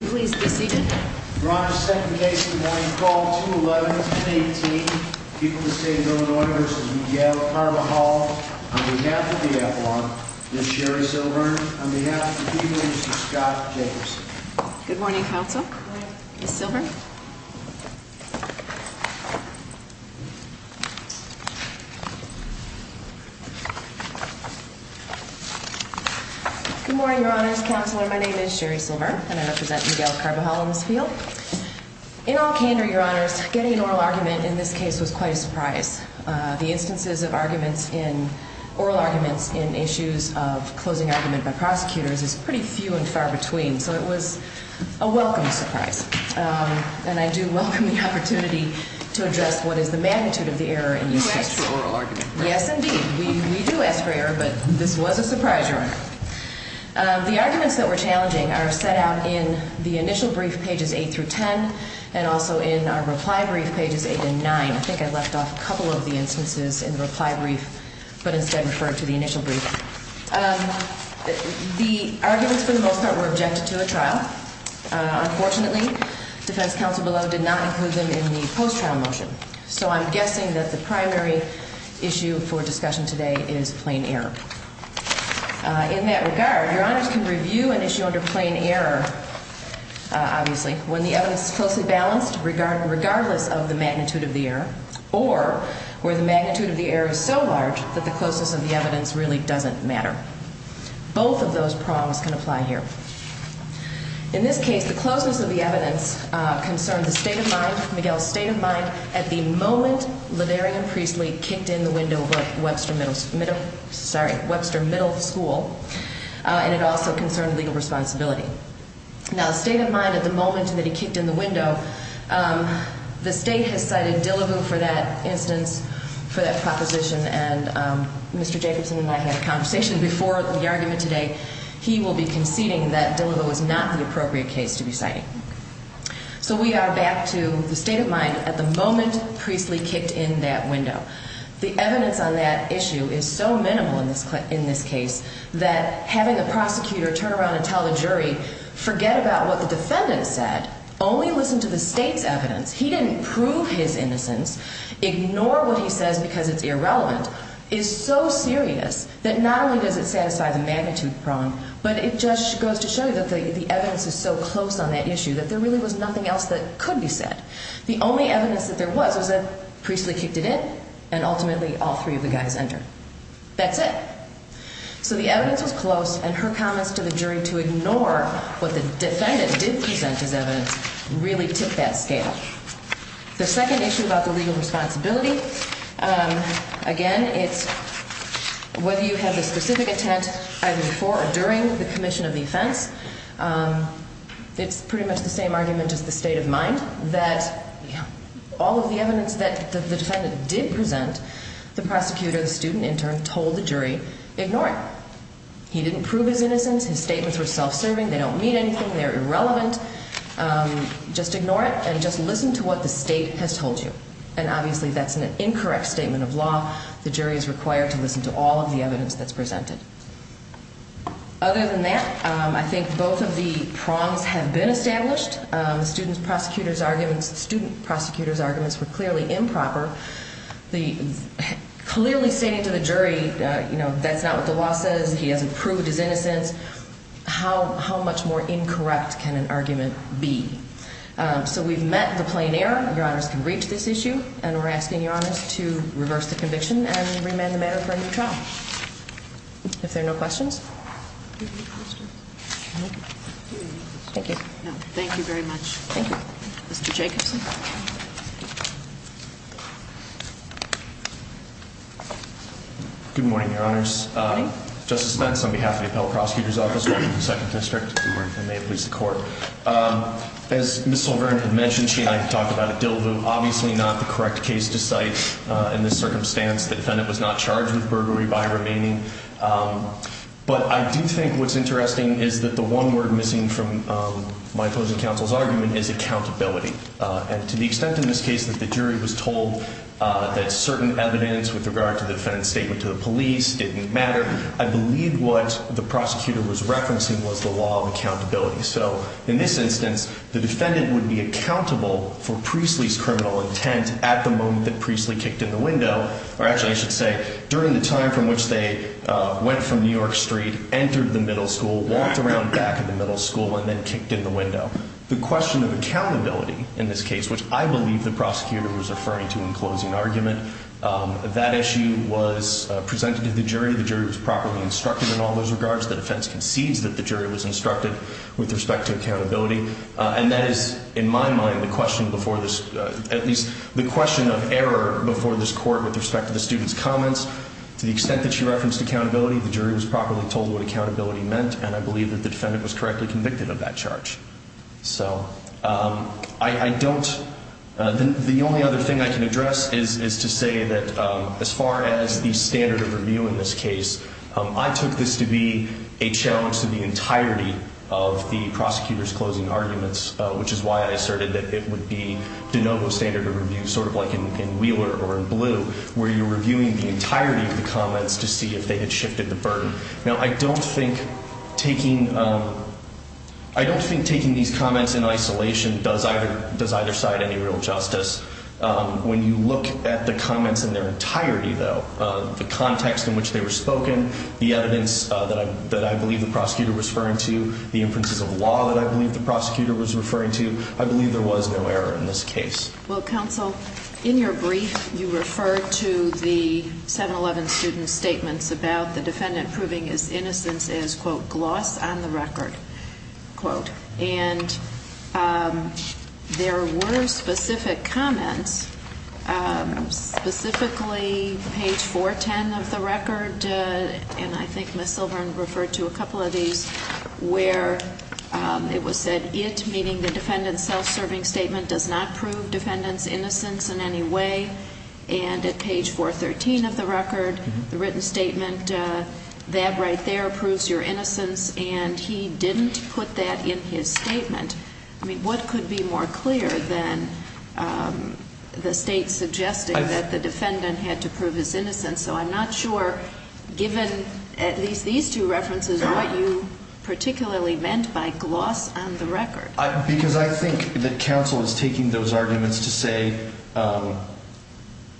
Please be seated. Your Honor, second case in the morning, call 2-11-1018, people of the state of Illinois v. v. Carbajal, on behalf of the Avalon, Ms. Sherry Silver, on behalf of the people, Mr. Scott Jacobson. Good morning, Counsel. Good morning. Ms. Silver. Good morning, Your Honors. Counselor, my name is Sherry Silver, and I represent Miguel Carbajal in this field. In all candor, Your Honors, getting an oral argument in this case was quite a surprise. The instances of oral arguments in issues of closing argument by prosecutors is pretty few and far between, so it was a welcome surprise. And I do welcome the opportunity to address what is the magnitude of the error in these cases. You asked for oral argument, correct? Yes, indeed. We do ask for error, but this was a surprise, Your Honor. The arguments that were challenging are set out in the initial brief, pages 8 through 10, and also in our reply brief, pages 8 and 9. I think I left off a couple of the instances in the reply brief, but instead referred to the initial brief. The arguments, for the most part, were objected to a trial. Unfortunately, defense counsel below did not include them in the post-trial motion, so I'm guessing that the primary issue for discussion today is plain error. In that regard, Your Honors can review an issue under plain error, obviously, when the evidence is closely balanced, regardless of the magnitude of the error, or where the magnitude of the error is so large that the closeness of the evidence really doesn't matter. Both of those prongs can apply here. In this case, the closeness of the evidence concerned the state of mind, Miguel's state of mind, at the moment LeDarian Priestley kicked in the window of Webster Middle School, and it also concerned legal responsibility. Now, the state of mind at the moment that he kicked in the window, the State has cited Dillebou for that instance, for that proposition, and Mr. Jacobson and I had a conversation before the argument today. He will be conceding that Dillebou is not the appropriate case to be citing. So we are back to the state of mind at the moment Priestley kicked in that window. The evidence on that issue is so minimal in this case that having the prosecutor turn around and tell the jury, forget about what the defendant said, only listen to the State's evidence, he didn't prove his innocence, ignore what he says because it's irrelevant, is so serious that not only does it satisfy the magnitude prong, but it just goes to show you that the evidence is so close on that issue that there really was nothing else that could be said. The only evidence that there was was that Priestley kicked it in, and ultimately all three of the guys entered. That's it. So the evidence was close, and her comments to the jury to ignore what the defendant did present as evidence really tipped that scale. The second issue about the legal responsibility, again, it's whether you have a specific intent either before or during the commission of the offense. It's pretty much the same argument as the state of mind that all of the evidence that the defendant did present, the prosecutor, the student intern told the jury, ignore it. He didn't prove his innocence. His statements were self-serving. They don't mean anything. They're irrelevant. Just ignore it and just listen to what the state has told you. And obviously that's an incorrect statement of law. The jury is required to listen to all of the evidence that's presented. Other than that, I think both of the prongs have been established. The student prosecutor's arguments were clearly improper. Clearly saying to the jury, you know, that's not what the law says. He hasn't proved his innocence. How much more incorrect can an argument be? So we've met the plain error. Your honors can reach this issue. And we're asking your honors to reverse the conviction and remand the matter for a new trial. If there are no questions. Thank you. Thank you very much. Mr. Jacobson. Good morning, your honors. Good morning. I'm from the prosecutor's office in the 2nd District. Good morning. And may it please the court. As Ms. Silverman had mentioned, she and I have talked about a dill-voo. Obviously not the correct case to cite in this circumstance. The defendant was not charged with burglary by remaining. But I do think what's interesting is that the one word missing from my opposing counsel's argument is accountability. And to the extent in this case that the jury was told that certain evidence with regard to the defendant's statement to the police didn't matter, I believe what the prosecutor was referencing was the law of accountability. So in this instance, the defendant would be accountable for Priestley's criminal intent at the moment that Priestley kicked in the window, or actually I should say during the time from which they went from New York Street, entered the middle school, walked around back in the middle school, and then kicked in the window. The question of accountability in this case, which I believe the prosecutor was referring to in closing argument, that issue was presented to the jury. The jury was properly instructed in all those regards. The defense concedes that the jury was instructed with respect to accountability. And that is, in my mind, the question before this, at least the question of error before this court with respect to the student's comments. To the extent that she referenced accountability, the jury was properly told what accountability meant, and I believe that the defendant was correctly convicted of that charge. So I don't – the only other thing I can address is to say that as far as the standard of review in this case, I took this to be a challenge to the entirety of the prosecutor's closing arguments, which is why I asserted that it would be de novo standard of review, sort of like in Wheeler or in Blue, where you're reviewing the entirety of the comments to see if they had shifted the burden. Now, I don't think taking these comments in isolation does either side any real justice. When you look at the comments in their entirety, though, the context in which they were spoken, the evidence that I believe the prosecutor was referring to, the inferences of law that I believe the prosecutor was referring to, I believe there was no error in this case. Well, counsel, in your brief, you referred to the 7-11 student's statements about the defendant proving his innocence as, quote, gloss on the record, quote. And there were specific comments, specifically page 410 of the record, and I think Ms. Silver referred to a couple of these, where it was said, it, meaning the defendant's self-serving statement, does not prove defendant's innocence in any way, and at page 413 of the record, the written statement, that right there proves your innocence, and he didn't put that in his statement. I mean, what could be more clear than the State suggesting that the defendant had to prove his innocence? So I'm not sure, given at least these two references, what you particularly meant by gloss on the record. Because I think that counsel is taking those arguments to say,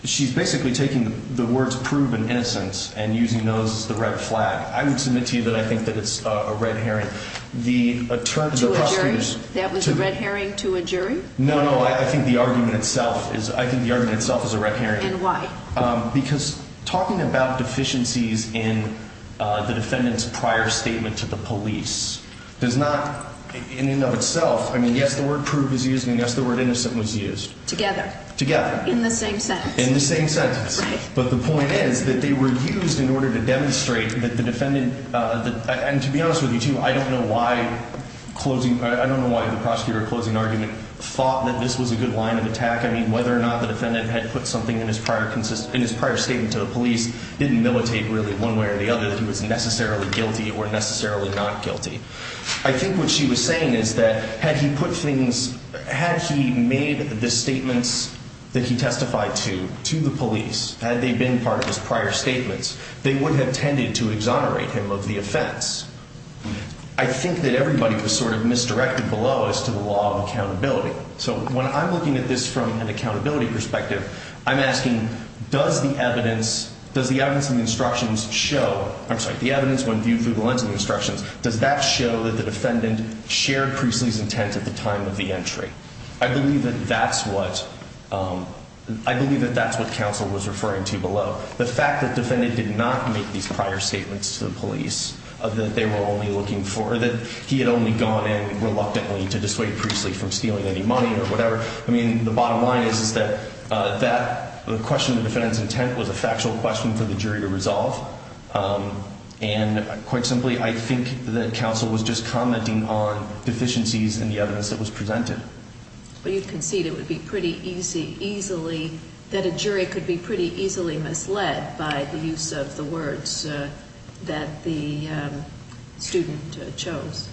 she's basically taking the words prove an innocence and using those as the red flag. I would submit to you that I think that it's a red herring. To a jury? That was a red herring to a jury? No, no, I think the argument itself is a red herring. And why? Because talking about deficiencies in the defendant's prior statement to the police does not, in and of itself, I mean, yes, the word prove is used, and yes, the word innocent was used. Together. Together. In the same sentence. In the same sentence. Right. But the point is that they were used in order to demonstrate that the defendant, and to be honest with you, too, I don't know why closing, I don't know why the prosecutor closing argument thought that this was a good line of attack. I mean, whether or not the defendant had put something in his prior statement to the police didn't militate really one way or the other that he was necessarily guilty or necessarily not guilty. I think what she was saying is that had he put things, had he made the statements that he testified to, to the police, had they been part of his prior statements, they would have tended to exonerate him of the offense. I think that everybody was sort of misdirected below as to the law of accountability. So when I'm looking at this from an accountability perspective, I'm asking does the evidence in the instructions show, I'm sorry, the evidence when viewed through the lens of the instructions, does that show that the defendant shared Priestley's intent at the time of the entry? I believe that that's what counsel was referring to below. The fact that the defendant did not make these prior statements to the police, that they were only looking for, or that he had only gone in reluctantly to dissuade Priestley from stealing any money or whatever. I mean, the bottom line is that the question of the defendant's intent was a factual question for the jury to resolve. And quite simply, I think that counsel was just commenting on deficiencies in the evidence that was presented. Well, you concede it would be pretty easy, easily, that a jury could be pretty easily misled by the use of the words that the student chose.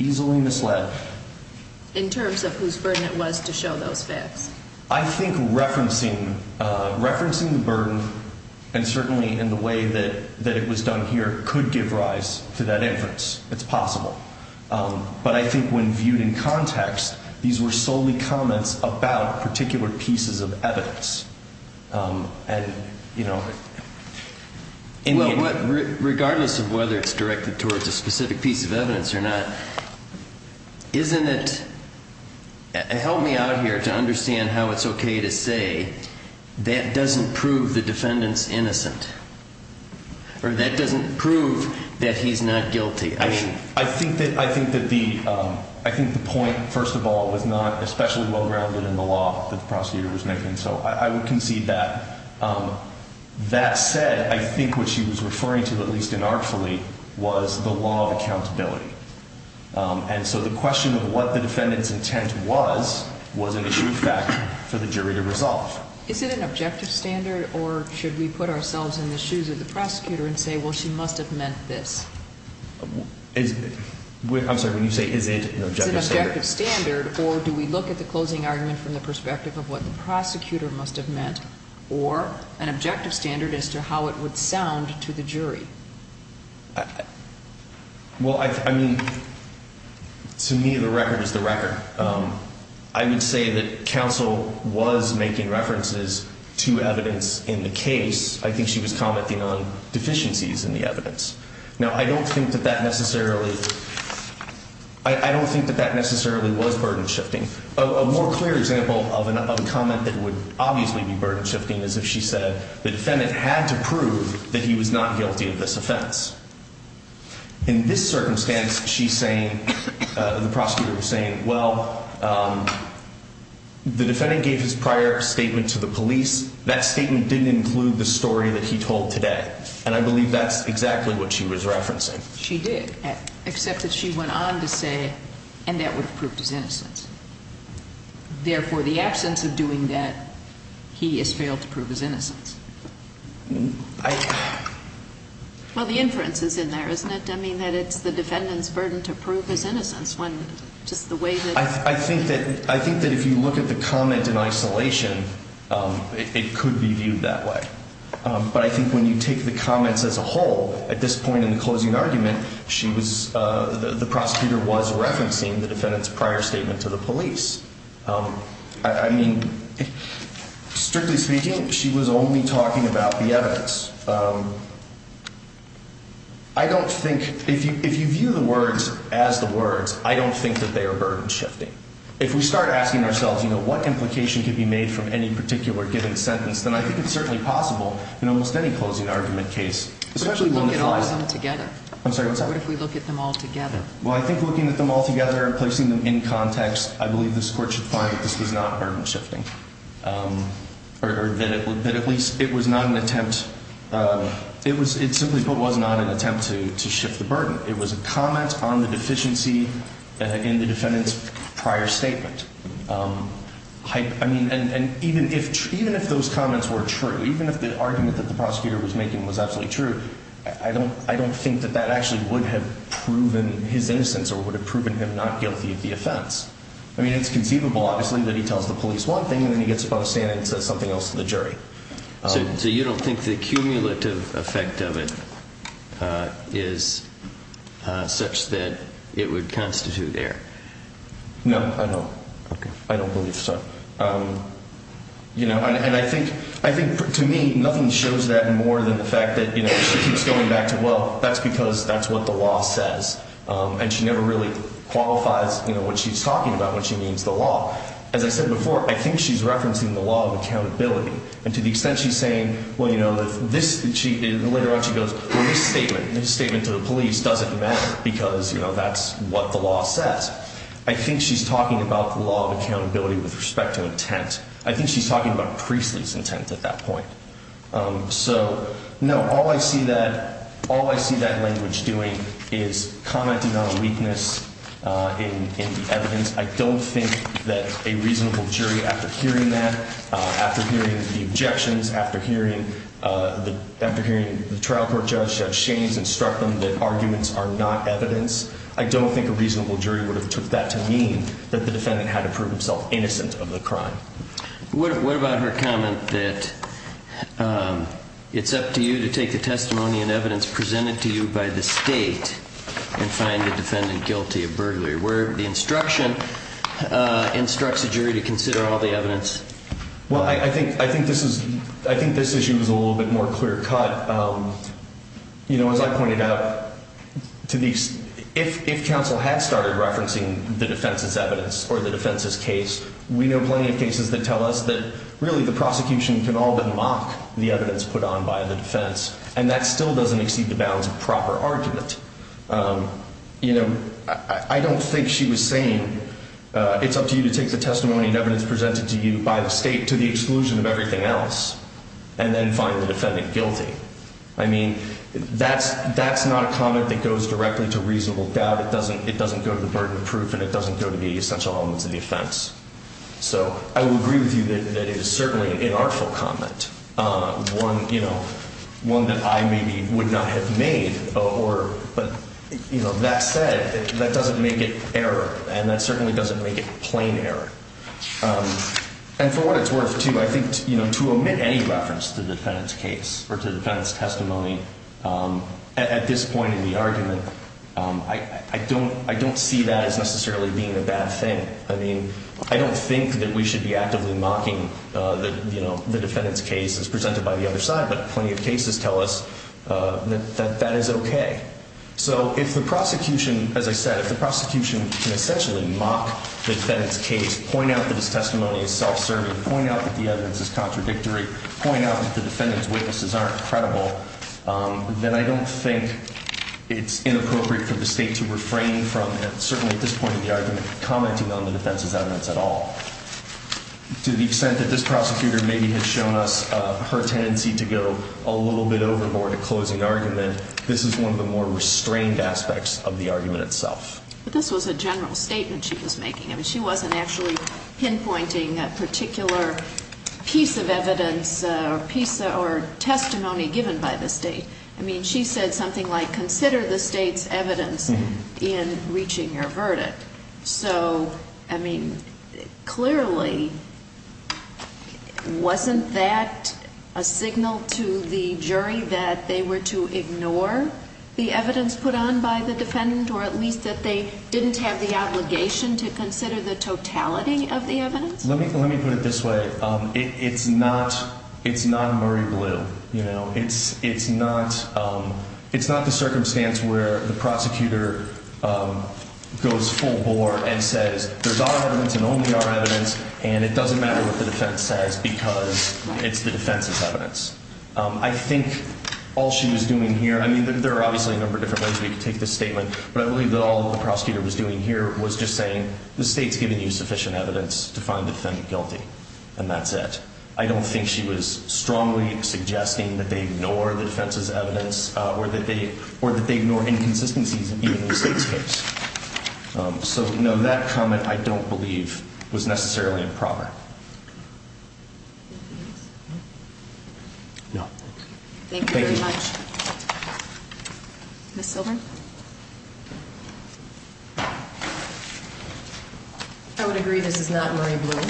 Easily misled. In terms of whose burden it was to show those facts. I think referencing the burden, and certainly in the way that it was done here, could give rise to that inference. It's possible. But I think when viewed in context, these were solely comments about particular pieces of evidence. Regardless of whether it's directed towards a specific piece of evidence or not, help me out here to understand how it's okay to say that doesn't prove the defendant's innocent. Or that doesn't prove that he's not guilty. I think the point, first of all, was not especially well-grounded in the law that the prosecutor was making. So I would concede that. That said, I think what she was referring to, at least inartfully, was the law of accountability. And so the question of what the defendant's intent was, was an issue of fact for the jury to resolve. Is it an objective standard, or should we put ourselves in the shoes of the prosecutor and say, well, she must have meant this? I'm sorry, when you say, is it an objective standard? Is it an objective standard, or do we look at the closing argument from the perspective of what the prosecutor must have meant, or an objective standard as to how it would sound to the jury? Well, I mean, to me, the record is the record. I would say that counsel was making references to evidence in the case. I think she was commenting on deficiencies in the evidence. Now, I don't think that that necessarily was burden-shifting. A more clear example of a comment that would obviously be burden-shifting is if she said, the defendant had to prove that he was not guilty of this offense. In this circumstance, the prosecutor was saying, well, the defendant gave his prior statement to the police. That statement didn't include the story that he told today. And I believe that's exactly what she was referencing. She did, except that she went on to say, and that would have proved his innocence. Therefore, the absence of doing that, he has failed to prove his innocence. Well, the inference is in there, isn't it? I mean, that it's the defendant's burden to prove his innocence, just the way that he did. I think that if you look at the comment in isolation, it could be viewed that way. But I think when you take the comments as a whole, at this point in the closing argument, the prosecutor was referencing the defendant's prior statement to the police. I mean, strictly speaking, she was only talking about the evidence. I don't think, if you view the words as the words, I don't think that they are burden shifting. If we start asking ourselves, you know, what implication could be made from any particular given sentence, then I think it's certainly possible in almost any closing argument case, especially one that's not. But what if we look at all of them together? I'm sorry, what's that? What if we look at them all together? Well, I think looking at them all together and placing them in context, I believe this Court should find that this was not burden shifting, or that at least it was not an attempt, it simply was not an attempt to shift the burden. It was a comment on the deficiency in the defendant's prior statement. I mean, and even if those comments were true, even if the argument that the prosecutor was making was absolutely true, I don't think that that actually would have proven his innocence or would have proven him not guilty of the offense. I mean, it's conceivable, obviously, that he tells the police one thing, and then he gets up out of standing and says something else to the jury. So you don't think the cumulative effect of it is such that it would constitute error? No, I don't. Okay. I don't believe so. You know, and I think, to me, nothing shows that more than the fact that, you know, she keeps going back to, well, that's because that's what the law says. And she never really qualifies, you know, what she's talking about when she means the law. As I said before, I think she's referencing the law of accountability. And to the extent she's saying, well, you know, this, and later on she goes, well, this statement, this statement to the police doesn't matter because, you know, that's what the law says. I think she's talking about the law of accountability with respect to intent. I think she's talking about Priestley's intent at that point. So, no, all I see that language doing is commenting on a weakness in the evidence. I don't think that a reasonable jury, after hearing that, after hearing the objections, after hearing the trial court judge, Judge Shaines, instruct them that arguments are not evidence, I don't think a reasonable jury would have took that to mean that the defendant had to prove himself innocent of the crime. What about her comment that it's up to you to take the testimony and evidence presented to you by the state and find the defendant guilty of burglary, where the instruction instructs the jury to consider all the evidence? Well, I think this issue is a little bit more clear cut. You know, as I pointed out, if counsel had started referencing the defense's evidence or the defense's case, we know plenty of cases that tell us that, really, the prosecution can all but mock the evidence put on by the defense, and that still doesn't exceed the bounds of proper argument. You know, I don't think she was saying, it's up to you to take the testimony and evidence presented to you by the state to the exclusion of everything else and then find the defendant guilty. I mean, that's not a comment that goes directly to reasonable doubt. It doesn't go to the burden of proof, and it doesn't go to the essential elements of the offense. So I will agree with you that it is certainly an unartful comment, one that I maybe would not have made. But that said, that doesn't make it error, and that certainly doesn't make it plain error. And for what it's worth, too, I think to omit any reference to the defendant's case or to the defendant's testimony, at this point in the argument, I don't see that as necessarily being a bad thing. I mean, I don't think that we should be actively mocking the defendant's case as presented by the other side, but plenty of cases tell us that that is okay. So if the prosecution, as I said, if the prosecution can essentially mock the defendant's case, point out that his testimony is self-serving, point out that the evidence is contradictory, point out that the defendant's witnesses aren't credible, then I don't think it's inappropriate for the State to refrain from, certainly at this point in the argument, commenting on the defense's evidence at all. To the extent that this prosecutor maybe has shown us her tendency to go a little bit overboard at closing argument, this is one of the more restrained aspects of the argument itself. But this was a general statement she was making. I mean, she wasn't actually pinpointing a particular piece of evidence or testimony given by the State. I mean, she said something like, consider the State's evidence in reaching your verdict. So, I mean, clearly wasn't that a signal to the jury that they were to ignore the evidence put on by the defendant or at least that they didn't have the obligation to consider the totality of the evidence? Let me put it this way. It's not Murray Blue. It's not the circumstance where the prosecutor goes full bore and says there's our evidence and only our evidence and it doesn't matter what the defense says because it's the defense's evidence. I think all she was doing here, I mean, there are obviously a number of different ways we could take this statement, but I believe that all the prosecutor was doing here was just saying the State's given you sufficient evidence to find the defendant guilty and that's it. I don't think she was strongly suggesting that they ignore the defense's evidence or that they ignore inconsistencies in even the State's case. So, no, that comment, I don't believe, was necessarily improper. No. Thank you very much. Ms. Silver? I would agree this is not Murray Blue.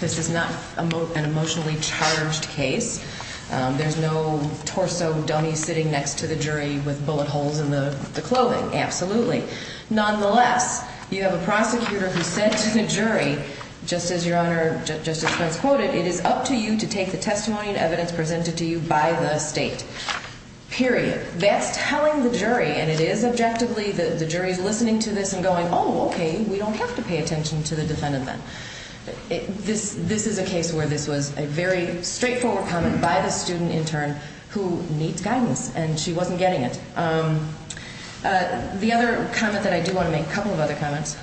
This is not an emotionally charged case. There's no torso dummy sitting next to the jury with bullet holes in the clothing. Absolutely. Nonetheless, you have a prosecutor who said to the jury, just as Your Honor, Justice Pence quoted, it is up to you to take the testimony and evidence presented to you by the State, period. That's telling the jury, and it is objectively, the jury's listening to this and going, oh, okay, we don't have to pay attention to the defendant then. This is a case where this was a very straightforward comment by the student intern who needs guidance, and she wasn't getting it. The other comment that I do want to make, a couple of other comments,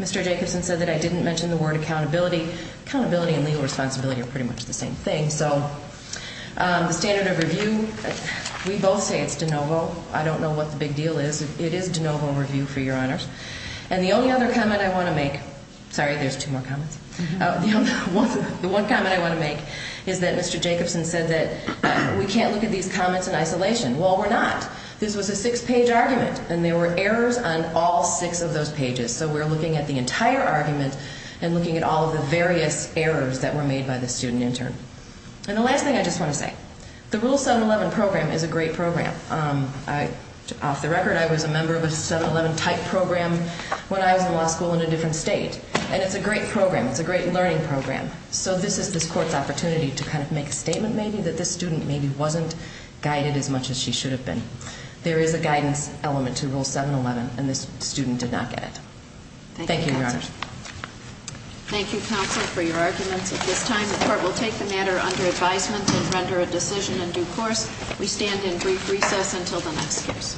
Mr. Jacobson said that I didn't mention the word accountability. Accountability and legal responsibility are pretty much the same thing. So the standard of review, we both say it's de novo. I don't know what the big deal is. It is de novo review for Your Honors. And the only other comment I want to make, sorry, there's two more comments. The one comment I want to make is that Mr. Jacobson said that we can't look at these comments in isolation. Well, we're not. This was a six-page argument, and there were errors on all six of those pages. So we're looking at the entire argument and looking at all of the various errors that were made by the student intern. And the last thing I just want to say, the Rule 711 program is a great program. Off the record, I was a member of a 711-type program when I was in law school in a different state, and it's a great program. It's a great learning program. So this is this Court's opportunity to kind of make a statement maybe that this student maybe wasn't guided as much as she should have been. There is a guidance element to Rule 711, and this student did not get it. Thank you, Your Honors. Thank you, Counsel, for your arguments. At this time, the Court will take the matter under advisement and render a decision in due course. We stand in brief recess until the next case.